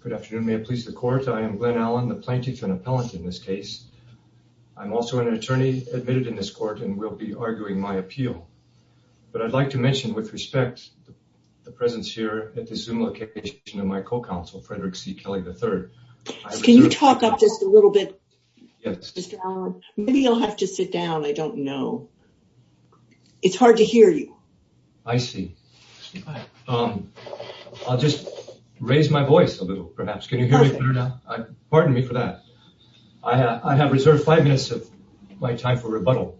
Good afternoon may it please the court I am Glenn Allen the plaintiff and appellant in this case I'm also an attorney admitted in this court and will be arguing my appeal but I'd like to mention with respect the presence here at the zoom location of my co-counsel Frederick C Kelly the third can you talk up just a little bit maybe you'll have to sit down I don't know it's hard to hear you I see I'll just raise my voice a little perhaps can you hear me now pardon me for that I have reserved five minutes of my time for rebuttal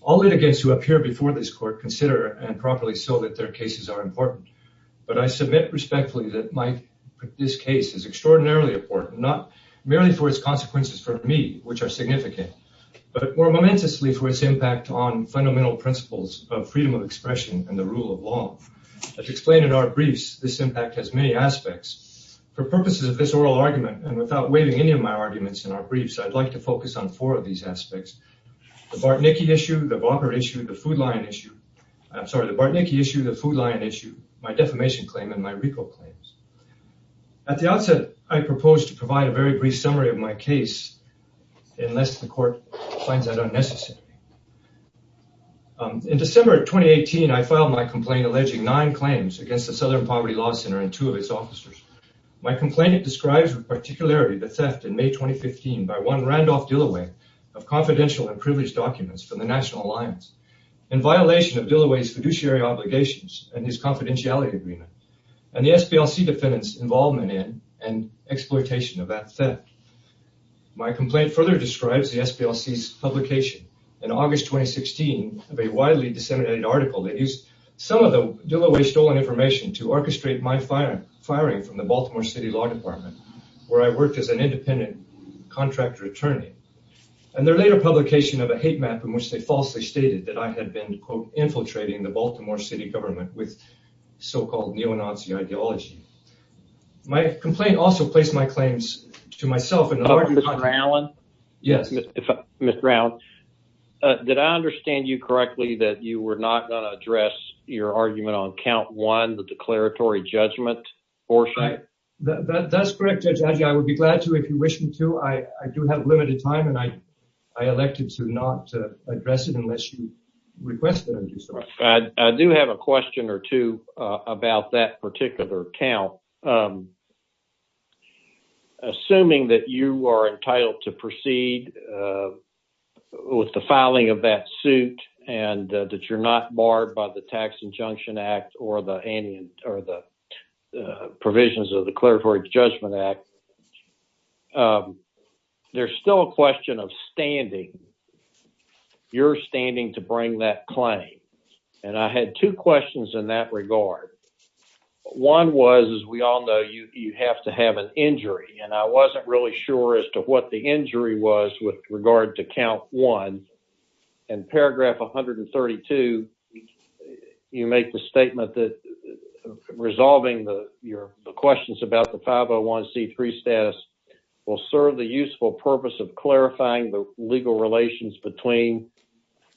all litigants who appear before this court consider and properly so that their cases are important but I submit respectfully that my this case is extraordinarily important not merely for its consequences for me which are significant but more momentously for its impact on fundamental principles of freedom of expression and the rule of law as explained in our briefs this impact has many aspects for purposes of this oral argument and without waiving any of my arguments in our briefs I'd like to focus on four of these aspects the Bartnicki issue the barber issue the food line issue I'm sorry the Bartnicki issue the food line issue my defamation claim and my Rico claims at the outset I find that unnecessary in December 2018 I filed my complaint alleging nine claims against the Southern Poverty Law Center and two of its officers my complainant describes with particularity the theft in May 2015 by one Randolph Dilloway of confidential and privileged documents from the National Alliance in violation of Dilloway's fiduciary obligations and his confidentiality agreement and the SPLC defendants involvement in and exploitation of that theft my complaint further describes the SPLC's publication in August 2016 of a widely disseminated article that used some of the Dilloway stolen information to orchestrate my fire firing from the Baltimore City Law Department where I worked as an independent contractor attorney and their later publication of a hate map in which they falsely stated that I had been quote infiltrating the Baltimore City government with so-called neo-nazi ideology my complaint also place my claims to myself in the garden Allen yes mr. Allen did I understand you correctly that you were not going to address your argument on count one the declaratory judgment or say that that's correct I would be glad to if you wish me to I do have limited time and I I elected to not address it unless you I do have a question or two about that particular account assuming that you are entitled to proceed with the filing of that suit and that you're not barred by the Tax Injunction Act or the any or the provisions of the Claritory Judgment Act there's still a question of standing you're standing to bring that claim and I had two questions in that regard one was as we all know you have to have an injury and I wasn't really sure as to what the injury was with regard to count one and paragraph 132 you make the statement that resolving the your questions about the 501c3 status will serve the useful purpose of clarifying the legal relations between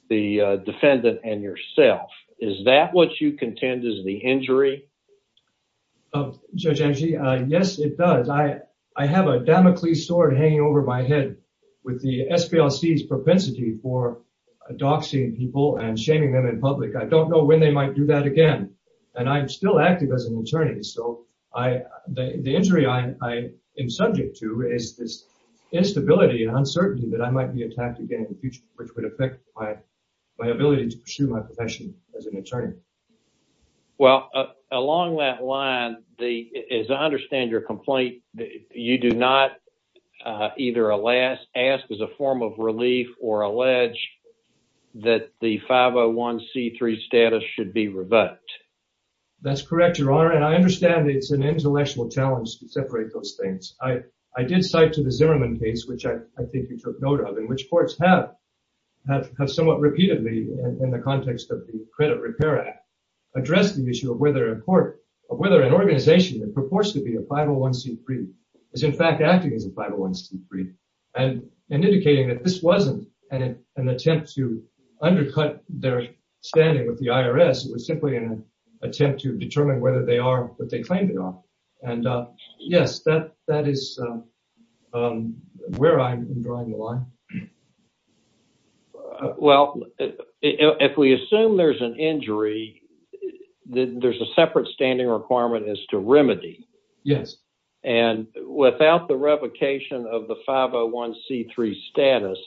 the defendant and yourself is that what you contend is the injury of judge Angie yes it does I I have a Damocles sword hanging over my head with the SPLC's propensity for a doxing people and shaming them in public I don't know when they might do that again and I'm still active as an attorney so I the injury I am subject to is this instability and uncertainty that I might be attacked again in the future which would affect my my ability to pursue my profession as an attorney well along that line the is I understand your complaint you do not either alas ask as a form of relief or and I understand it's an intellectual challenge to separate those things I I did cite to the Zimmerman case which I think you took note of in which courts have have somewhat repeatedly in the context of the Credit Repair Act addressed the issue of whether a court of whether an organization that purports to be a 501c3 is in fact acting as a 501c3 and indicating that this wasn't an attempt to undercut their standing with the IRS it was simply an determining whether they are what they claimed it on and yes that that is where I'm drawing the line well if we assume there's an injury then there's a separate standing requirement as to remedy yes and without the revocation of the 501c3 status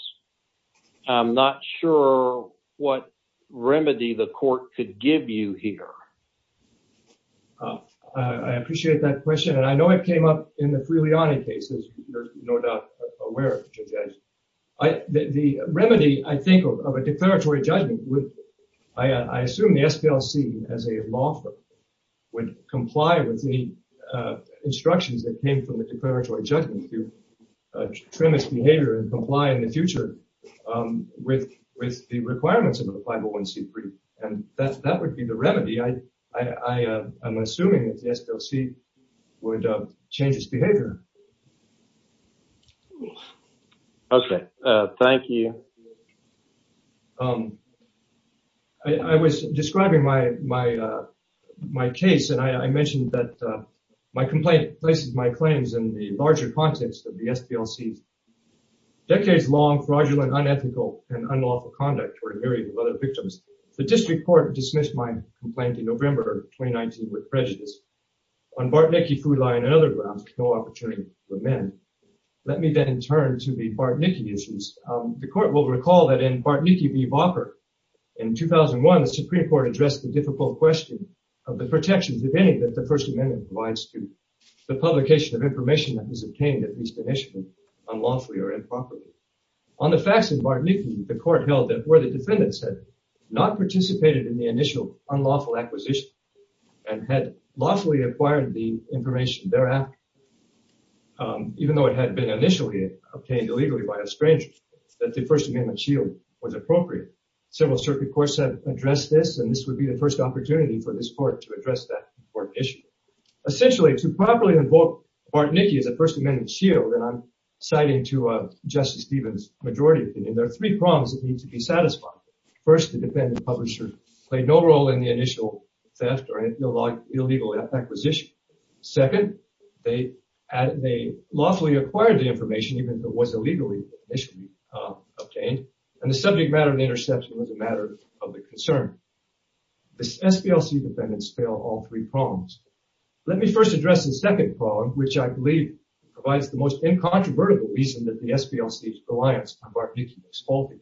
I'm not sure what remedy the court could give you here I appreciate that question and I know it came up in the Freeliani cases you're not aware of the remedy I think of a declaratory judgment with I assume the SPLC as a law firm would comply with the instructions that came from the premise behavior and comply in the future with with the requirements of a 501c3 and that's that would be the remedy I I am assuming that the SPLC would change its behavior okay thank you I was describing my my my case and I mentioned that my complaint places my claims in the larger context of the SPLC decades-long fraudulent unethical and unlawful conduct for a myriad of other victims the district court dismissed my complaint in November 2019 with prejudice on Bartnicki food line and other grounds no opportunity for men let me then turn to the Bartnicki issues the court will recall that in Bartnicki v Vopper in 2001 the Supreme Court addressed the difficult question of the protections of any that the First Amendment provides to the publication of unlawfully or improperly on the facts of Bartnicki the court held that where the defendants had not participated in the initial unlawful acquisition and had lawfully acquired the information thereafter even though it had been initially obtained illegally by a stranger that the First Amendment shield was appropriate several circuit courts have addressed this and this would be the first opportunity for this court to address that important issue essentially to properly invoke Bartnicki as a First Amendment shield and I'm citing to Justice Stevens majority opinion there are three problems that need to be satisfied first the defendant publisher played no role in the initial theft or illegal acquisition second they they lawfully acquired the information even though was illegally initially obtained and the subject matter of the interception was a matter of the concern this SPLC defendants fail all three let me first address the second problem which I believe provides the most incontrovertible reason that the SPLC's reliance on Bartnicki's holding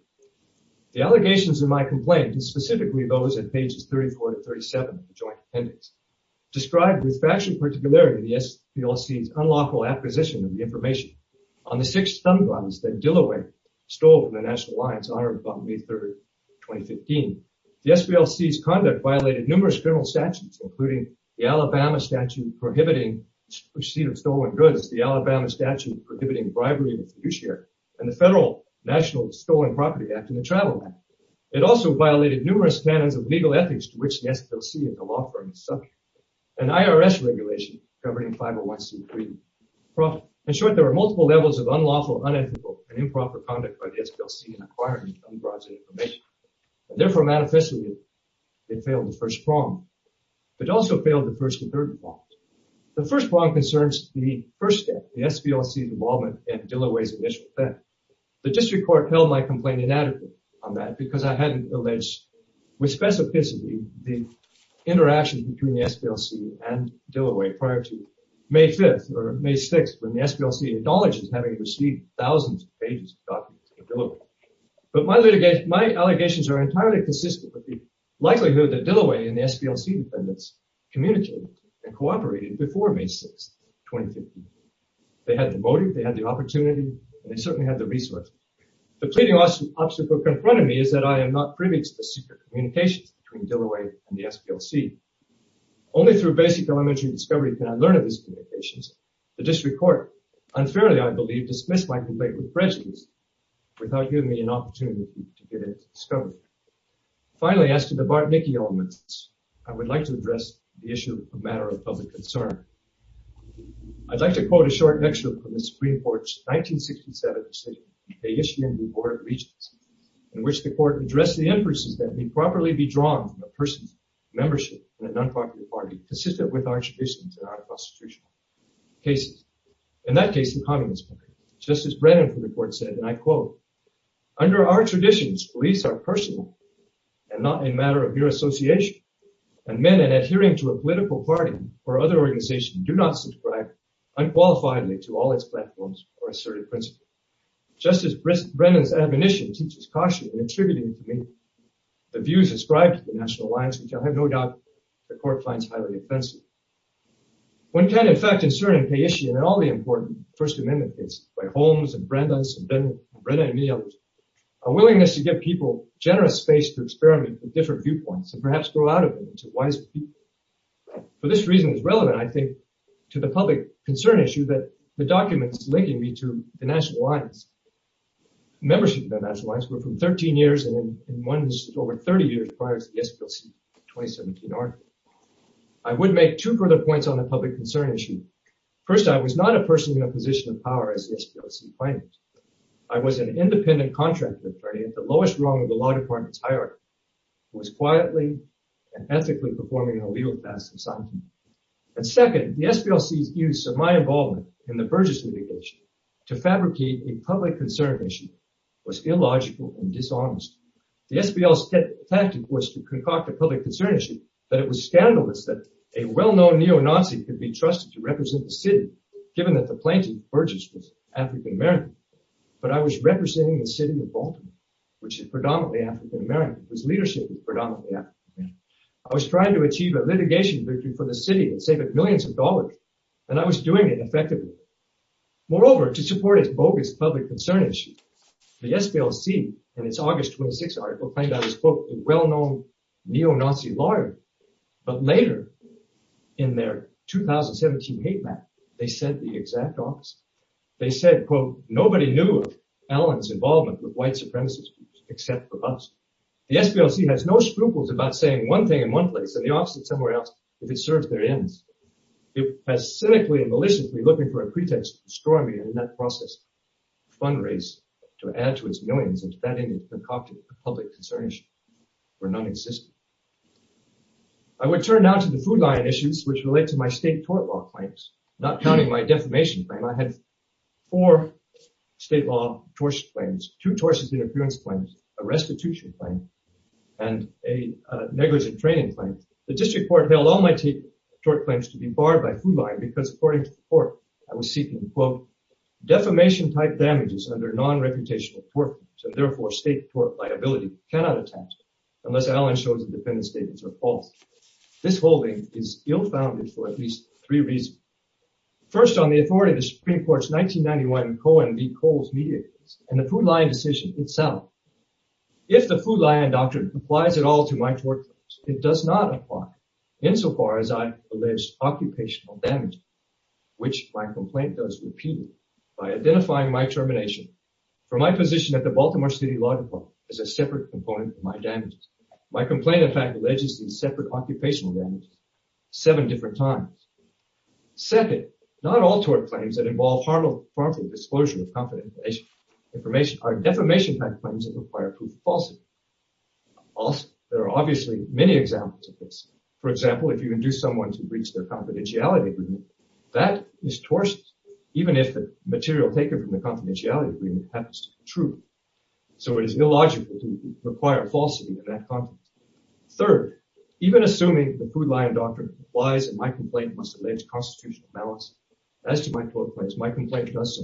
the allegations in my complaint is specifically those at pages 34 to 37 joint appendix described with faction particularity the SPLC's unlawful acquisition of the information on the six stun guns that Dilloway stole in the National Alliance on or about May 3rd 2015 the SPLC's conduct violated numerous federal statutes including the Alabama statute prohibiting receipt of stolen goods the Alabama statute prohibiting bribery and fiduciary and the federal national stolen property act in the Travel Act it also violated numerous standards of legal ethics to which the SPLC in the law firm is subject an IRS regulation governing 501c3 in short there are multiple levels of unlawful unethical and improper conduct by the SPLC in acquiring unbrodged therefore manifestly it failed the first prong but also failed the first and third one the first one concerns the first step the SPLC involvement and Dilloway's initial effect the district court held my complaint inadequate on that because I hadn't alleged with specificity the interaction between the SPLC and Dilloway prior to May 5th or May 6th when the SPLC acknowledges having received thousands of pages of documents from Dilloway but my allegations are entirely consistent with the likelihood that Dilloway and the SPLC defendants communicated and cooperated before May 6th 2015 they had the motive they had the opportunity they certainly had the resource the pleading obstacle in front of me is that I am not privy to the secret communications between Dilloway and the SPLC only through basic elementary discovery can I learn of these communications the district court unfairly I believe dismissed my complaint with prejudice without giving me an opportunity to get it discovered finally as to the Bartnicki elements I would like to address the issue of matter of public concern I'd like to quote a short lecture from the Supreme Court's 1967 decision they issued in the Board of Regents in which the court addressed the emphasis that may properly be drawn from a person's membership in an unpopular party consistent with our traditions and our cases in that case the communist justice Brennan from the court said and I quote under our traditions police are personal and not a matter of your association and men and adhering to a political party or other organization do not subscribe unqualifiedly to all its platforms or asserted principle justice Brist Brennan's admonition teaches caution in attributing to me the views ascribed to the National Alliance which I have no doubt the court finds highly offensive one can in fact in certain pay issue and all the important First Amendment case by Holmes and Brenda's and then read any others a willingness to give people generous space to experiment with different viewpoints and perhaps grow out of it into wise people for this reason is relevant I think to the public concern issue that the documents linking me to the National Alliance membership 13 years and once over 30 years prior to the SPLC 2017 article I would make two further points on the public concern issue first I was not a person in a position of power as the SPLC plaintiffs I was an independent contract attorney at the lowest rung of the law department's hierarchy was quietly and ethically performing a legal task assignment and second the SPLC's use of my involvement in the Burgess litigation to fabricate a public concern issue was illogical and dishonest the SPL step tactic was to concoct a public concern issue but it was scandalous that a well-known neo-nazi could be trusted to represent the city given that the plaintiff Burgess was African-American but I was representing the city of Baltimore which is predominantly African-American whose leadership is predominantly I was trying to achieve a litigation victory for the city and save it millions of dollars and I was doing it effectively moreover to support its bogus public concern issue the SPL see and it's August 26 article find out his book a well-known neo-nazi lawyer but later in their 2017 hate map they said the exact opposite they said quote nobody knew Allen's involvement with white supremacist groups except for us the SPLC has no sprinkles about saying one thing in one place and the opposite somewhere else if it serves their ends it has cynically and maliciously looking for a pretext to destroy me in that process fundraise to add to its millions of spending and concocted public concerns were non-existent I would turn now to the food line issues which relate to my state tort law claims not counting my defamation claim I had four state law tortious claims two tortious interference claims a restitution claim and a negligent training claim the district court held all my tape short claims to be barred by food line because according to the court I was seeking quote defamation type damages under non-reputational work so therefore state court liability cannot attach unless Allen shows the defendant statements are false this holding is ill-founded for at least three reasons first on the authority of the Supreme Court's 1991 Cohen v. Coles media and the food line decision itself if the food line doctrine applies at all to my tort it does not apply insofar as I've alleged occupational damage which my complaint does repeatedly by identifying my termination for my position at the Baltimore City Law Department is a separate component of my damage my complaint in fact alleges these separate occupational damage seven different times second not all tort claims that involve harmful harmful disclosure of confidential information are defamation type claims that require proof of falsity also there are obviously many examples of this for example if you induce someone to breach their confidentiality agreement that is torched even if the material taken from the confidentiality agreement happens to be true so it is illogical to require falsity in that context third even assuming the food line doctrine applies and my complaint must allege constitutional balance as to my workplace my complaint does so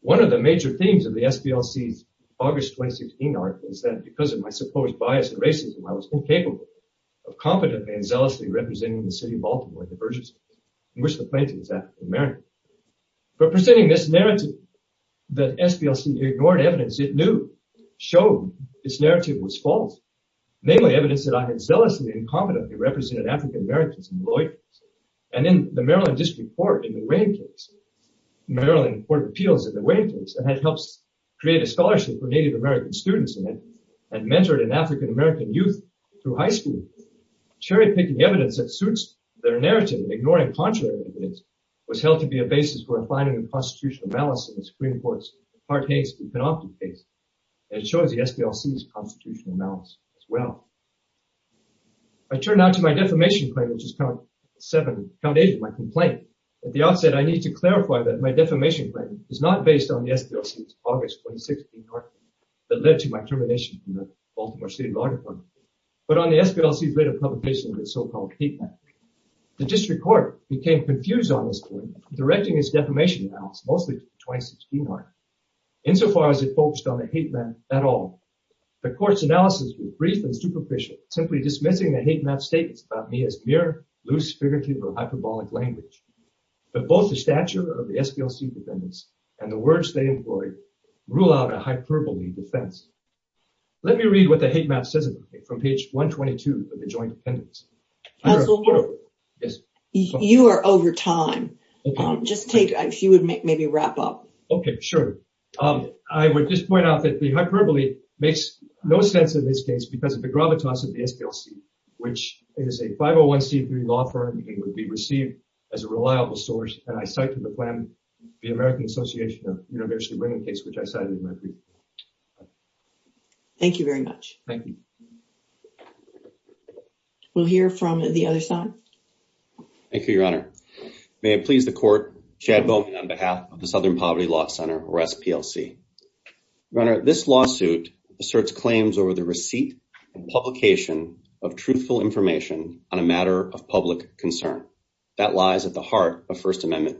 one of the major themes of the SPLC's August 2016 article is that because of my supposed bias and racism I was capable of competently and zealously representing the city of Baltimore divergence in which the plaintiff is African-American for presenting this narrative that SPLC ignored evidence it knew showed this narrative was false namely evidence that I had zealously and competently represented African-Americans in Lloyd and in the Maryland District Court in the waiting case Maryland Court of Appeals in the waiting case that helps create a scholarship for African-American youth through high school cherry-picking evidence that suits their narrative ignoring contrary evidence was held to be a basis for defining the constitutional malice in the Supreme Court's Hart-Hayes and Panoptic case and it shows the SPLC's constitutional malice as well I turn now to my defamation claim which is count seven count eight my complaint at the outset I need to clarify that my defamation claim is not based on the August 2016 article that led to my termination from the Baltimore State Law Department but on the SPLC's later publication of its so-called hate map. The district court became confused on this point directing its defamation analysis mostly to the 2016 article insofar as it focused on the hate map at all. The court's analysis was brief and superficial simply dismissing the hate map statements about me as mere loose figurative or hyperbolic language but both the stature of the SPLC defendants and the words they employed rule out a hyperbole defense. Let me read what the hate map says about me from page 122 of the joint appendix. You are over time just take a few would make maybe wrap up. Okay sure um I would just point out that the hyperbole makes no sense in this case because of the gravitas of the SPLC which is a 501c3 law firm it would be the American Association of University bringing case which I cited in my brief. Thank you very much. Thank you. We'll hear from the other side. Thank you your honor. May it please the court, Chad Bowman on behalf of the Southern Poverty Law Center or SPLC. Your honor, this lawsuit asserts claims over the receipt and publication of truthful information on a matter of public concern. That lies at the heart of First Amendment.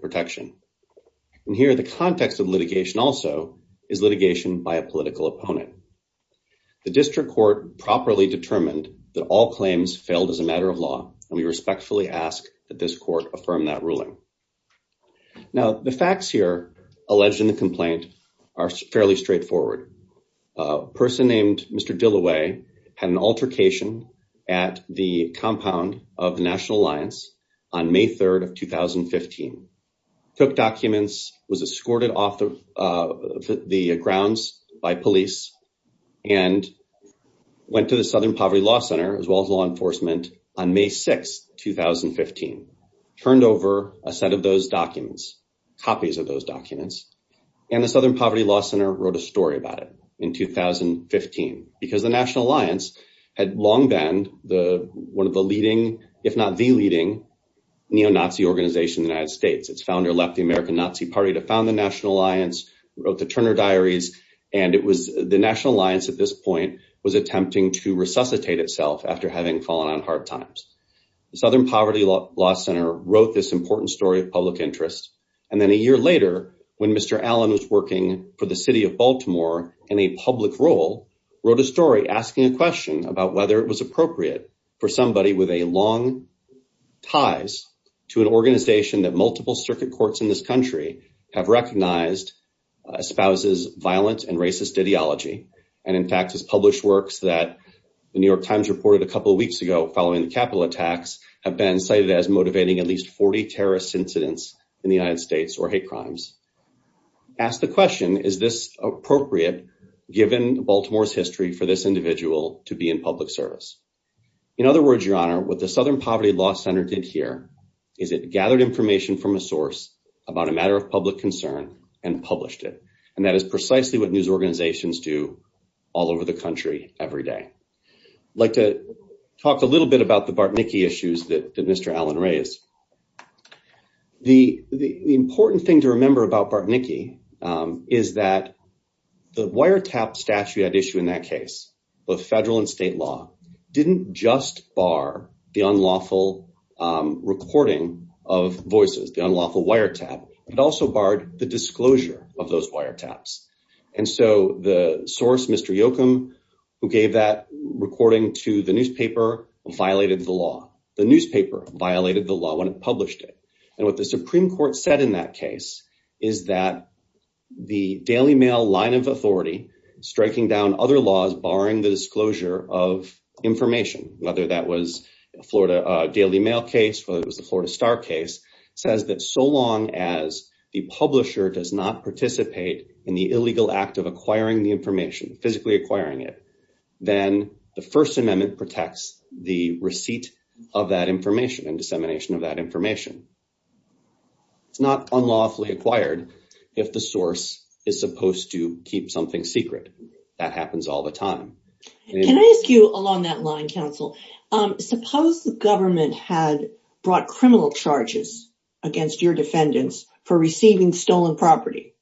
And here the context of litigation also is litigation by a political opponent. The district court properly determined that all claims failed as a matter of law and we respectfully ask that this court affirm that ruling. Now the facts here alleged in the complaint are fairly straightforward. A person named Mr. Dilloway had an altercation at the compound of the National Alliance on May 3rd of 2015. Took documents, was escorted off the grounds by police and went to the Southern Poverty Law Center as well as law enforcement on May 6th 2015. Turned over a set of those documents, copies of those documents and the Southern Poverty Law Center wrote a story about it in 2015 because the National Alliance had long been the one of the leading if not the leading neo-Nazi organization in the United States. Its founder left the American Nazi Party to found the National Alliance, wrote the Turner Diaries and it was the National Alliance at this point was attempting to resuscitate itself after having fallen on hard times. The Southern Poverty Law Center wrote this important story of public interest and then a year later when Mr. Allen was working for the city of Baltimore in a public role, wrote a story asking a question about whether it was appropriate for somebody with a long ties to an organization that multiple circuit courts in this country have recognized espouses violent and racist ideology. And in fact has published works that the New York Times reported a couple of weeks ago following the Capitol attacks have been cited as motivating at least 40 terrorist incidents in the United States or hate crimes. Asked the question, is this appropriate given Baltimore's history for this individual to be in public service? In other words, Your Honor, what the Southern Poverty Law Center did here is it gathered information from a source about a matter of public concern and published it. And that is precisely what news organizations do all over the country every day. I'd like to talk a little bit about the Bartnicki issues that Mr. Allen raised. The important thing to remember about Bartnicki is that the wiretap statute at issue in that case, both federal and state law, didn't just bar the unlawful recording of voices, the unlawful wiretap. It also barred the disclosure of those wiretaps. And so the source, Mr. Yoakum, who gave that recording to the newspaper, violated the law. The newspaper violated the law when it published it. And what the Supreme Court said in that case is that the Daily Mail line of authority striking down other laws barring the disclosure of information, whether that was Florida Daily Mail case, whether it was the Florida Star case, says that so long as the publisher does not participate in the illegal act of acquiring the information, physically acquiring it, then the First Amendment protects the receipt of that information and dissemination of that information. It's not unlawfully acquired if the source is supposed to keep something secret. That happens all the time. Can I ask you along that line, counsel? Suppose the government had brought criminal charges against your defendants for receiving stolen property.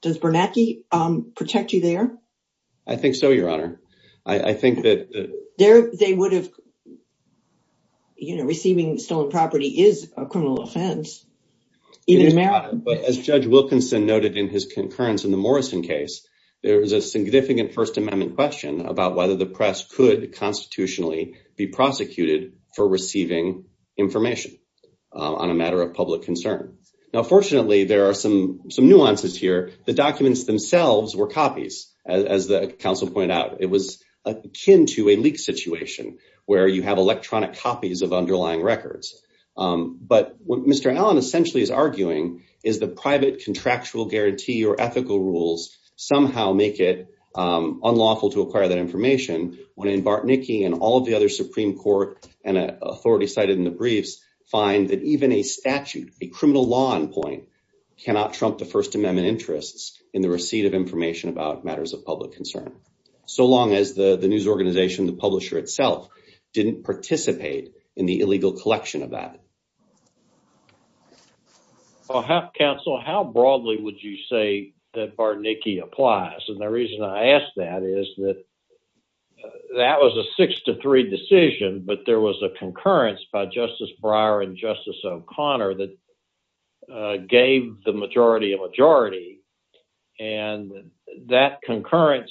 Does Bernanke protect you there? I think so, Your Honor. I think that they would have. You know, receiving stolen property is a criminal offense. But as Judge Wilkinson noted in his concurrence in the Morrison case, there is a significant First Amendment question about whether the press could constitutionally be prosecuted for receiving information on a matter of public concern. Now, fortunately, there are some nuances here. The documents themselves were copies, as the counsel pointed out. It was akin to a leak situation where you have electronic copies of underlying records. But what Mr. Allen essentially is arguing is the private contractual guarantee or ethical rules somehow make it unlawful to acquire that information when Bartnicki and all of the other Supreme Court and authorities cited in the briefs find that even a statute, a criminal law in point, cannot trump the First Amendment interests in the receipt of information about matters of public concern. So long as the news organization, the publisher itself, didn't participate in the illegal collection of that. Counsel, how broadly would you say that Bartnicki applies? And the reason I ask that is that that was a six to three decision, but there was a concurrence by Justice Breyer and Justice O'Connor that gave the majority a majority. And that concurrence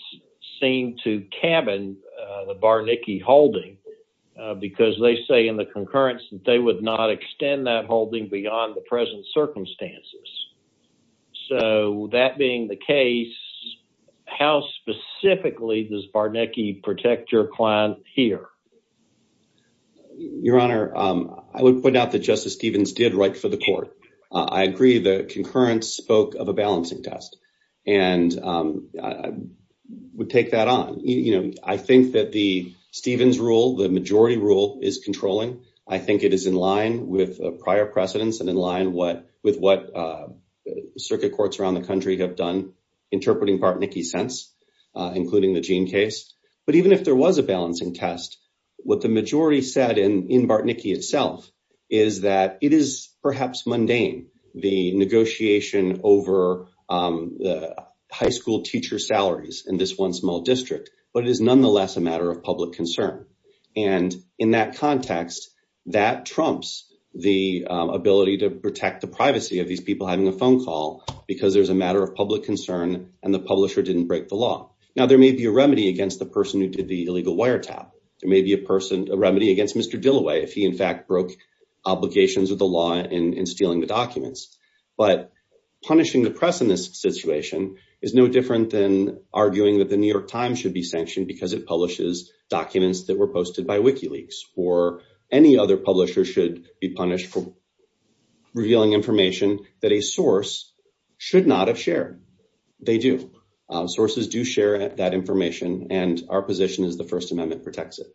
seemed to cabin the Bartnicki holding because they say in the concurrence that they would not extend that holding beyond the present circumstances. So that being the case, how specifically does Bartnicki protect your client here? Your Honor, I would point out that Justice Stevens did write for the court. I agree the concurrence spoke of a balancing test and would take that on. You know, I think that the Stevens rule, the majority rule, is controlling. I think it is in line with prior precedents and in line with what circuit courts around the country have done interpreting Bartnicki since, including the Jean case. But even if there was a balancing test, what the majority said in Bartnicki itself is that it is perhaps mundane, the negotiation over the high school teacher salaries in this one small district. But it is nonetheless a matter of public concern. And in that context, that trumps the ability to protect the privacy of these people having a phone call because there's a matter of public concern and the publisher didn't break the law. Now, there may be a remedy against the person who did the illegal wiretap. There may be a person, a remedy against Mr. Dilloway if he in fact broke obligations of the law in stealing the documents. But punishing the press in this situation is no different than arguing that the New York Times should be sanctioned because it publishes documents that were posted by WikiLeaks. Or any other publisher should be punished for revealing information that a source should not have shared. They do. Sources do share that information. And our position is the First Amendment protects it.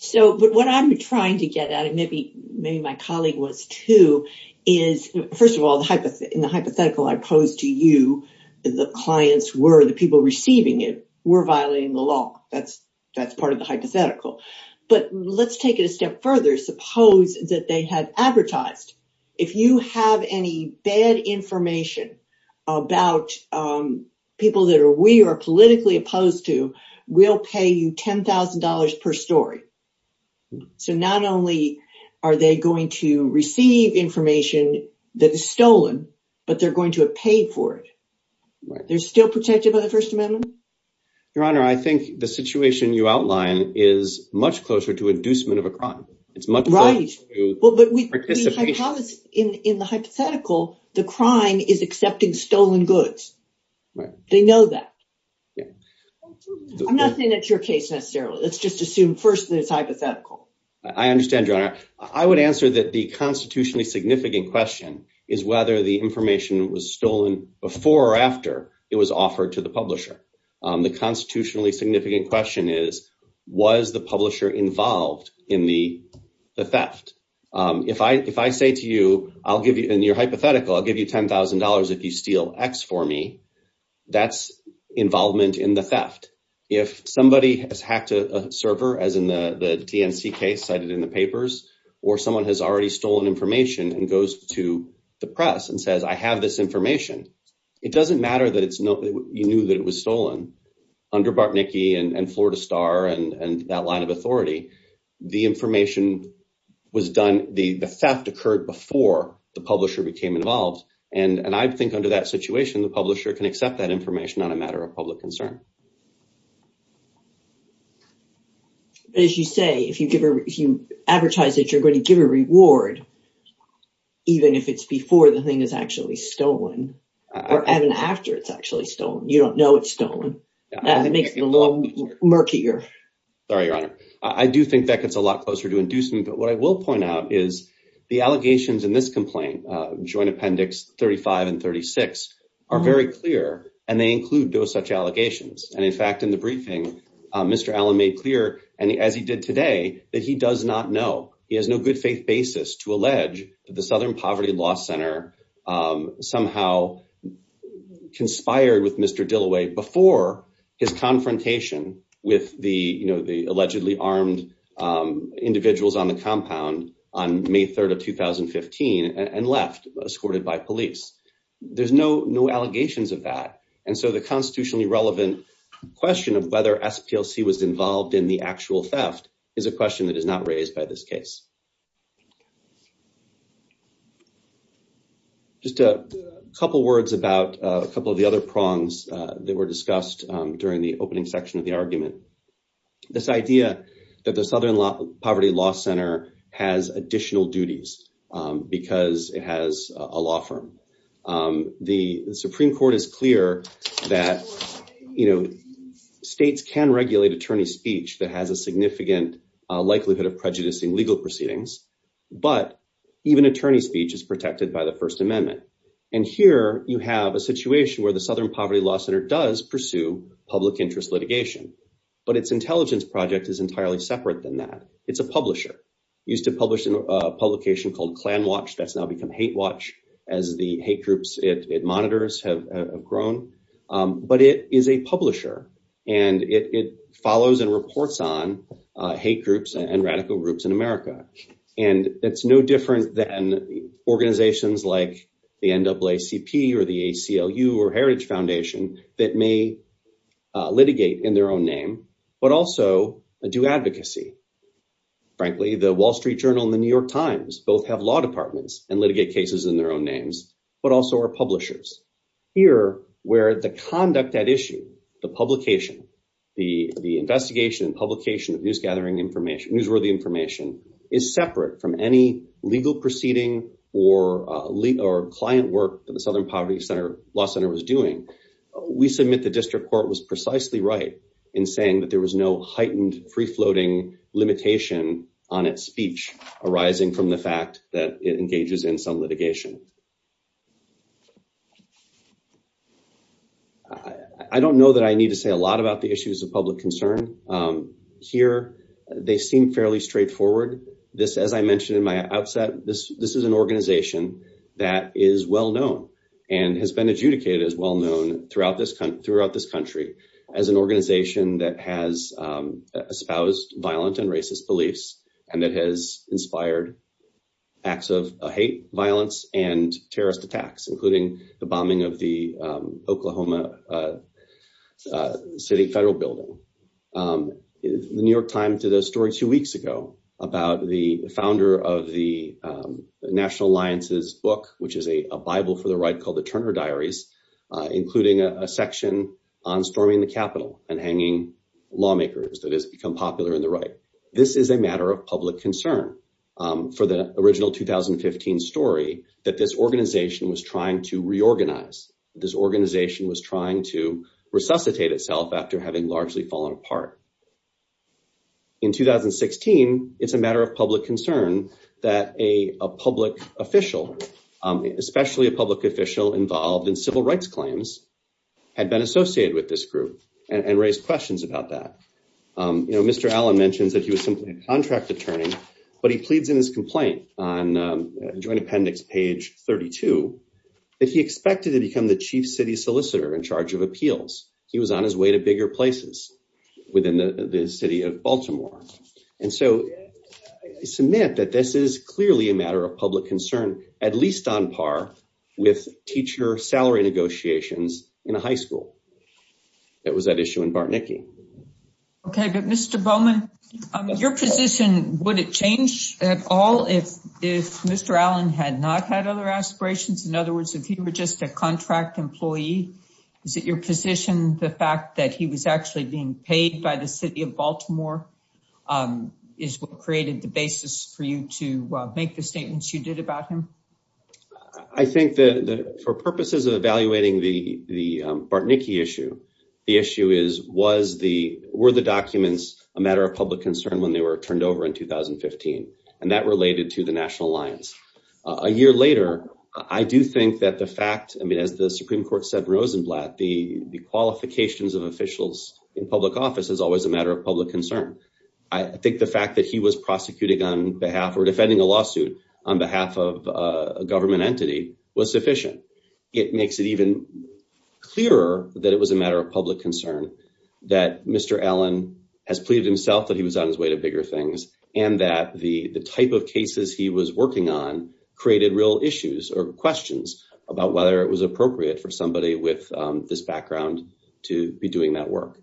So, but what I'm trying to get at, and maybe my colleague was too, is, first of all, in the hypothetical I posed to you, the clients were, the people receiving it, were violating the law. That's part of the hypothetical. But let's take it a step further. Suppose that they had advertised, if you have any bad information about people that we are politically opposed to, we'll pay you $10,000 per story. So not only are they going to receive information that is stolen, but they're going to have paid for it. They're still protected by the First Amendment? Your Honor, I think the situation you outline is much closer to inducement of a crime. It's much closer to participation. But in the hypothetical, the crime is accepting stolen goods. They know that. I'm not saying that's your case necessarily. Let's just assume first that it's hypothetical. I understand, Your Honor. I would answer that the constitutionally significant question is whether the information was stolen before or after it was offered to the publisher. The constitutionally significant question is, was the publisher involved in the theft? If I say to you, I'll give you, in your hypothetical, I'll give you $10,000 if you steal X for me, that's involvement in the theft. If somebody has hacked a server, as in the TNC case cited in the papers, or someone has already stolen information and goes to the press and says, I have this information, it doesn't matter that you knew that it was stolen. Under Bartnicki and Florida Star and that line of authority, the information was done, the theft occurred before the publisher became involved. And I think under that situation, the publisher can accept that information on a matter of public concern. As you say, if you advertise that you're going to give a reward, even if it's before the thing is actually stolen, or even after it's actually stolen, you don't know it's stolen. That makes it a lot murkier. Sorry, Your Honor. I do think that gets a lot closer to inducing, but what I will point out is the allegations in this complaint, Joint Appendix 35 and 36, are very clear, and they include no such allegations. And in fact, in the briefing, Mr. Allen made clear, as he did today, that he does not know. He has no good faith basis to allege that the Southern Poverty Law Center somehow conspired with Mr. Dilloway before his confrontation with the allegedly armed individuals on the compound on May 3rd of 2015 and left, escorted by police. There's no allegations of that. And so the constitutionally relevant question of whether SPLC was involved in the actual theft is a question that is not raised by this case. Just a couple words about a couple of the other prongs that were discussed during the opening section of the argument. This idea that the Southern Poverty Law Center has additional duties because it has a law firm. The Supreme Court is clear that states can regulate attorney speech that has a significant likelihood of prejudicing legal proceedings, but even attorney speech is protected by the First Amendment. And here you have a situation where the Southern Poverty Law Center does pursue public interest litigation, but its intelligence project is entirely separate than that. It's a publisher, used to publish a publication called Klan Watch that's now become Hate Watch, as the hate groups it monitors have grown. But it is a publisher, and it follows and reports on hate groups and radical groups in America. And it's no different than organizations like the NAACP or the ACLU or Heritage Foundation that may litigate in their own name, but also do advocacy. Frankly, the Wall Street Journal and the New York Times both have law departments and litigate cases in their own names, but also are publishers. Here, where the conduct at issue, the publication, the investigation and publication of newsworthy information is separate from any legal proceeding or client work that the Southern Poverty Law Center was doing, we submit the district court was precisely right in saying that there was no heightened free-floating limitation on its speech arising from the fact that it engages in some litigation. I don't know that I need to say a lot about the issues of public concern. Here, they seem fairly straightforward. This, as I mentioned in my outset, this is an organization that is well-known and has been adjudicated as well-known throughout this country as an organization that has espoused violent and racist beliefs and that has inspired acts of hate, violence, and terrorist attacks, including the bombing of the Oklahoma City Federal Building. The New York Times did a story two weeks ago about the founder of the National Alliance's book, which is a Bible for the right called the Turner Diaries, including a section on storming the Capitol and hanging lawmakers that has become popular in the right. This is a matter of public concern for the original 2015 story that this organization was trying to reorganize. This organization was trying to resuscitate itself after having largely fallen apart. In 2016, it's a matter of public concern that a public official, especially a public official involved in civil rights claims, had been associated with this group and raised questions about that. Mr. Allen mentions that he was simply a contract attorney, but he pleads in his complaint on joint appendix page 32 that he expected to become the chief city solicitor in charge of appeals. He was on his way to bigger places within the city of Baltimore. And so, I submit that this is clearly a matter of public concern, at least on par with teacher salary negotiations in a high school. It was that issue in Bartnicki. Okay, but Mr. Bowman, your position, would it change at all if Mr. Allen had not had other aspirations? In other words, if he were just a contract employee, is it your position the fact that he was actually being paid by the city of Baltimore is what created the basis for you to make the statements you did about him? I think that for purposes of evaluating the Bartnicki issue, the issue is, were the documents a matter of public concern when they were turned over in 2015? And that related to the National Alliance. A year later, I do think that the fact, I mean, as the Supreme Court said in Rosenblatt, the qualifications of officials in public office is always a matter of public concern. I think the fact that he was prosecuting on behalf or defending a lawsuit on behalf of a government entity was sufficient. It makes it even clearer that it was a matter of public concern that Mr. Allen has pleaded himself that he was on his way to bigger things. And that the type of cases he was working on created real issues or questions about whether it was appropriate for somebody with this background to be doing that work.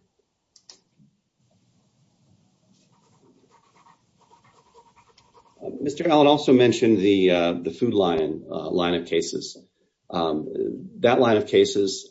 Mr. Allen also mentioned the Food Line line of cases. That line of cases,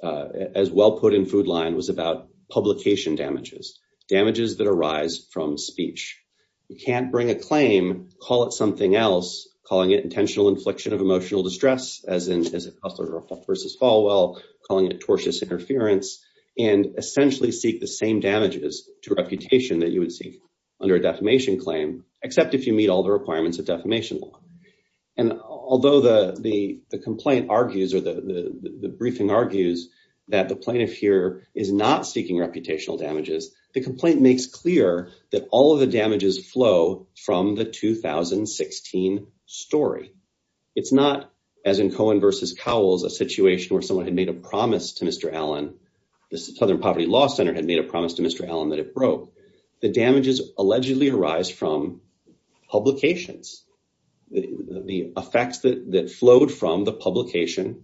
as well put in Food Line, was about publication damages, damages that arise from speech. You can't bring a claim, call it something else, calling it intentional infliction of emotional distress, as in Kessler v. Falwell, calling it tortious interference, and essentially seek the same damages to reputation that you would seek. Under a defamation claim, except if you meet all the requirements of defamation law. And although the complaint argues or the briefing argues that the plaintiff here is not seeking reputational damages, the complaint makes clear that all of the damages flow from the 2016 story. It's not, as in Cohen v. Cowles, a situation where someone had made a promise to Mr. Allen. The Southern Poverty Law Center had made a promise to Mr. Allen that it broke. The damages allegedly arise from publications, the effects that flowed from the publication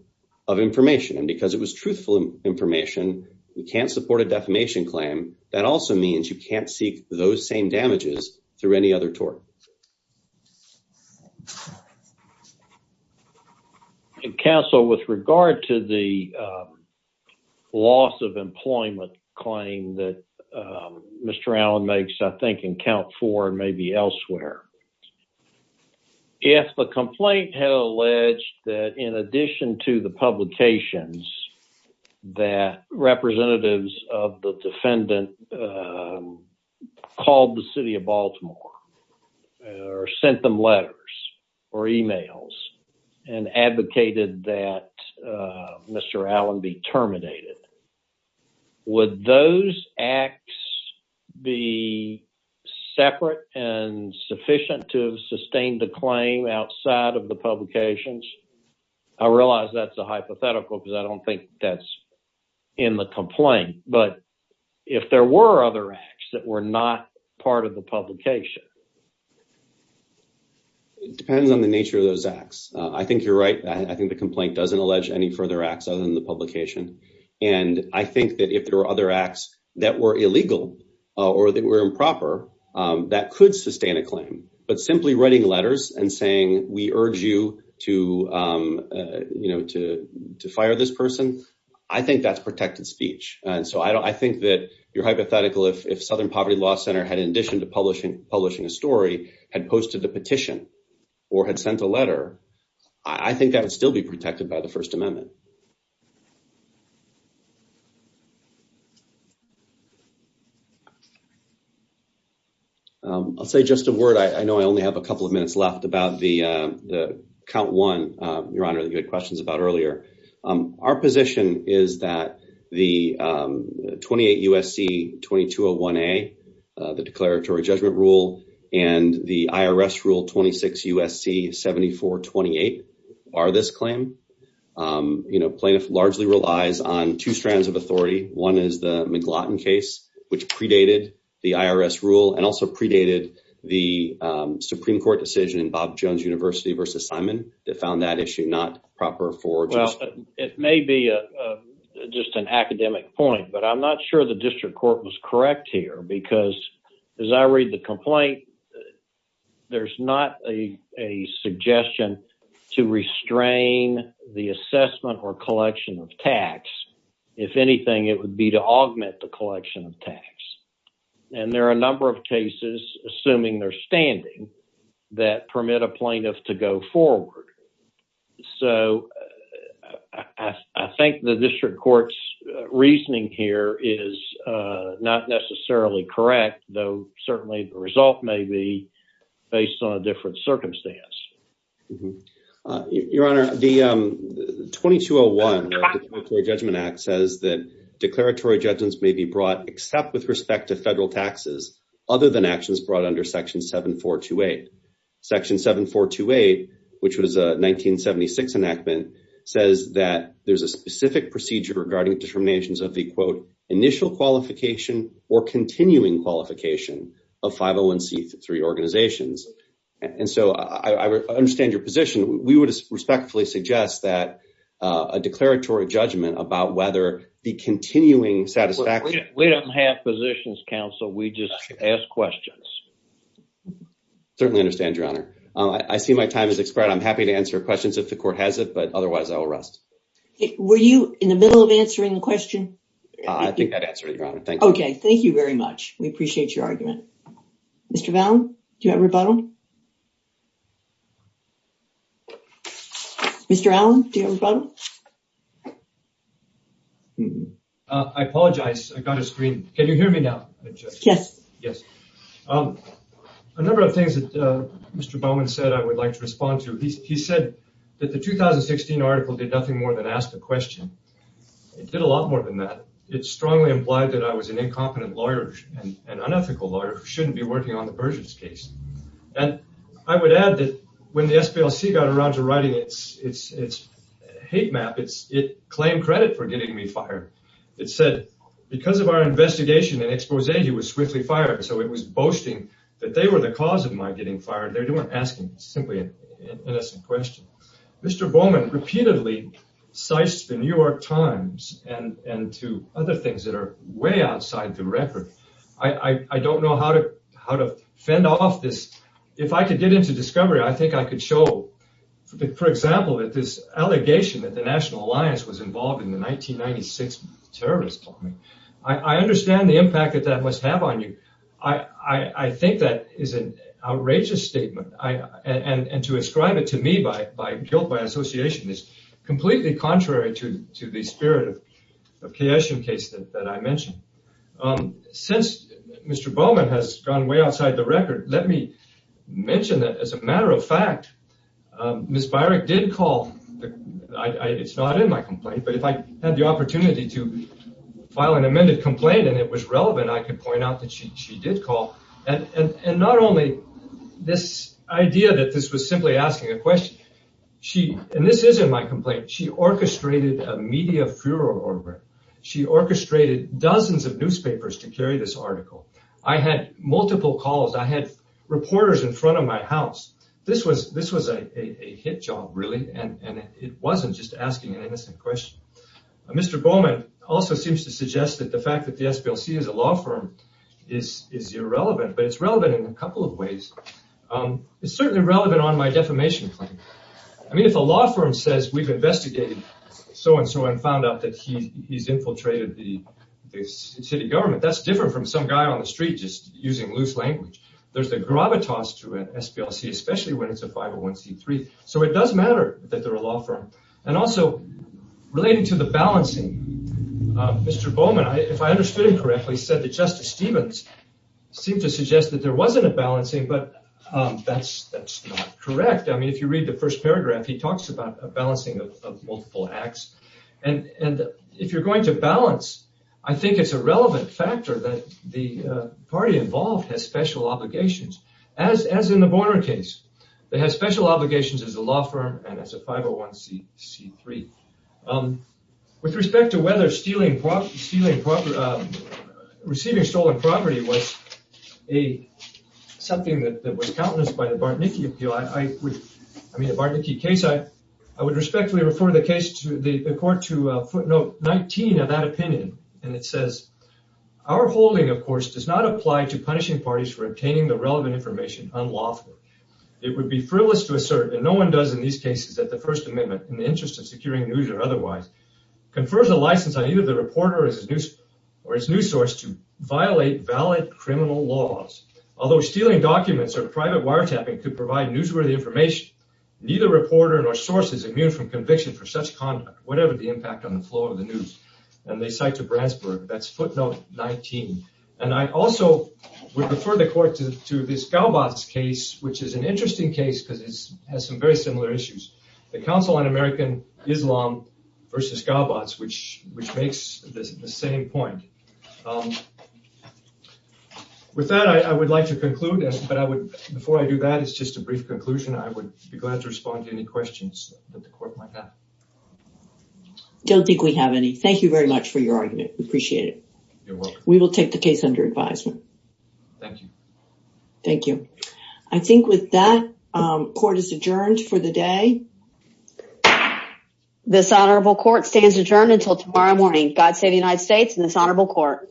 of information. And because it was truthful information, you can't support a defamation claim. That also means you can't seek those same damages through any other tort. Thank you. Counsel, with regard to the loss of employment claim that Mr. Allen makes, I think in count four and maybe elsewhere. If the complaint had alleged that in addition to the publications that representatives of the defendant called the city of Baltimore or sent them letters or emails and advocated that Mr. Allen be terminated, would those acts be separate and sufficient to sustain the claim outside of the publications? I realize that's a hypothetical because I don't think that's in the complaint. But if there were other acts that were not part of the publication? It depends on the nature of those acts. I think you're right. I think the complaint doesn't allege any further acts other than the publication. And I think that if there were other acts that were illegal or that were improper, that could sustain a claim. But simply writing letters and saying, we urge you to, you know, to fire this person. I think that's protected speech. And so I think that you're hypothetical if Southern Poverty Law Center had, in addition to publishing a story, had posted a petition or had sent a letter. I think that would still be protected by the First Amendment. I'll say just a word. I know I only have a couple of minutes left about the count one, Your Honor, that you had questions about earlier. Our position is that the 28 U.S.C. 2201A, the declaratory judgment rule and the IRS rule 26 U.S.C. 7428 are this claim. You know, plaintiff largely relies on two strands of authority. One is the McLaughlin case, which predated the IRS rule and also predated the Supreme Court decision in Bob Jones University versus Simon. They found that issue not proper for justice. It may be just an academic point, but I'm not sure the district court was correct here because as I read the complaint, there's not a suggestion to restrain the assessment or collection of tax. If anything, it would be to augment the collection of tax. And there are a number of cases, assuming they're standing, that permit a plaintiff to go forward. So I think the district court's reasoning here is not necessarily correct, though certainly the result may be based on a different circumstance. Your Honor, the 2201 Judgment Act says that declaratory judgments may be brought except with respect to federal taxes other than actions brought under Section 7428. Section 7428, which was a 1976 enactment, says that there's a specific procedure regarding determinations of the, quote, initial qualification or continuing qualification of 501c3 organizations. And so I understand your position. We would respectfully suggest that a declaratory judgment about whether the continuing satisfaction. We don't have positions, counsel. We just ask questions. Certainly understand, Your Honor. I see my time has expired. I'm happy to answer questions if the court has it, but otherwise I will rest. Were you in the middle of answering the question? I think that answered it, Your Honor. Thank you. Okay, thank you very much. We appreciate your argument. Mr. Vallen, do you have a rebuttal? Mr. Allen, do you have a rebuttal? I apologize. I got a screen. Can you hear me now? Yes. Yes. A number of things that Mr. Bowman said I would like to respond to. He said that the 2016 article did nothing more than ask a question. It did a lot more than that. It strongly implied that I was an incompetent lawyer and unethical lawyer who shouldn't be working on the Persians case. And I would add that when the SPLC got around to writing its hate map, it claimed credit for getting me fired. It said because of our investigation and expose, he was swiftly fired. So it was boasting that they were the cause of my getting fired. They weren't asking simply an innocent question. Mr. Bowman repeatedly cites the New York Times and to other things that are way outside the record. I don't know how to fend off this. If I could get into discovery, I think I could show, for example, that this allegation that the National Alliance was involved in the 1996 terrorist bombing. I understand the impact that that must have on you. I think that is an outrageous statement. And to ascribe it to me by guilt, by association, is completely contrary to the spirit of the Kayessian case that I mentioned. Since Mr. Bowman has gone way outside the record, let me mention that as a matter of fact, Ms. Beirich did call, it's not in my complaint, but if I had the opportunity to file an amended complaint and it was relevant, I could point out that she did call. And not only this idea that this was simply asking a question, and this is in my complaint, she orchestrated a media furor over it. She orchestrated dozens of newspapers to carry this article. I had multiple calls. I had reporters in front of my house. This was a hit job, really, and it wasn't just asking an innocent question. Mr. Bowman also seems to suggest that the fact that the SPLC is a law firm is irrelevant. But it's relevant in a couple of ways. It's certainly relevant on my defamation claim. I mean, if a law firm says we've investigated so-and-so and found out that he's infiltrated the city government, that's different from some guy on the street just using loose language. There's a gravitas to an SPLC, especially when it's a 501c3. So it does matter that they're a law firm. And also, relating to the balancing, Mr. Bowman, if I understood him correctly, said that Justice Stevens seemed to suggest that there wasn't a balancing, but that's not correct. I mean, if you read the first paragraph, he talks about a balancing of multiple acts. And if you're going to balance, I think it's a relevant factor that the party involved has special obligations, as in the Borner case. They have special obligations as a law firm and as a 501c3. With respect to whether receiving stolen property was something that was countenanced by the Bartnicki case, I would respectfully refer the court to footnote 19 of that opinion. And it says, our holding, of course, does not apply to punishing parties for obtaining the relevant information unlawfully. It would be frivolous to assert, and no one does in these cases, that the First Amendment, in the interest of securing news or otherwise, confers a license on either the reporter or his news source to violate valid criminal laws. Although stealing documents or private wiretapping could provide newsworthy information, neither reporter nor source is immune from conviction for such conduct, whatever the impact on the flow of the news. And they cite to Brandsburg, that's footnote 19. And I also would refer the court to this Gaubatz case, which is an interesting case, because it has some very similar issues. The Council on American Islam versus Gaubatz, which makes the same point. With that, I would like to conclude. But before I do that, it's just a brief conclusion. I would be glad to respond to any questions that the court might have. I don't think we have any. Thank you very much for your argument. We appreciate it. You're welcome. We will take the case under advisement. Thank you. Thank you. I think with that, court is adjourned for the day. This honorable court stands adjourned until tomorrow morning. God save the United States and this honorable court.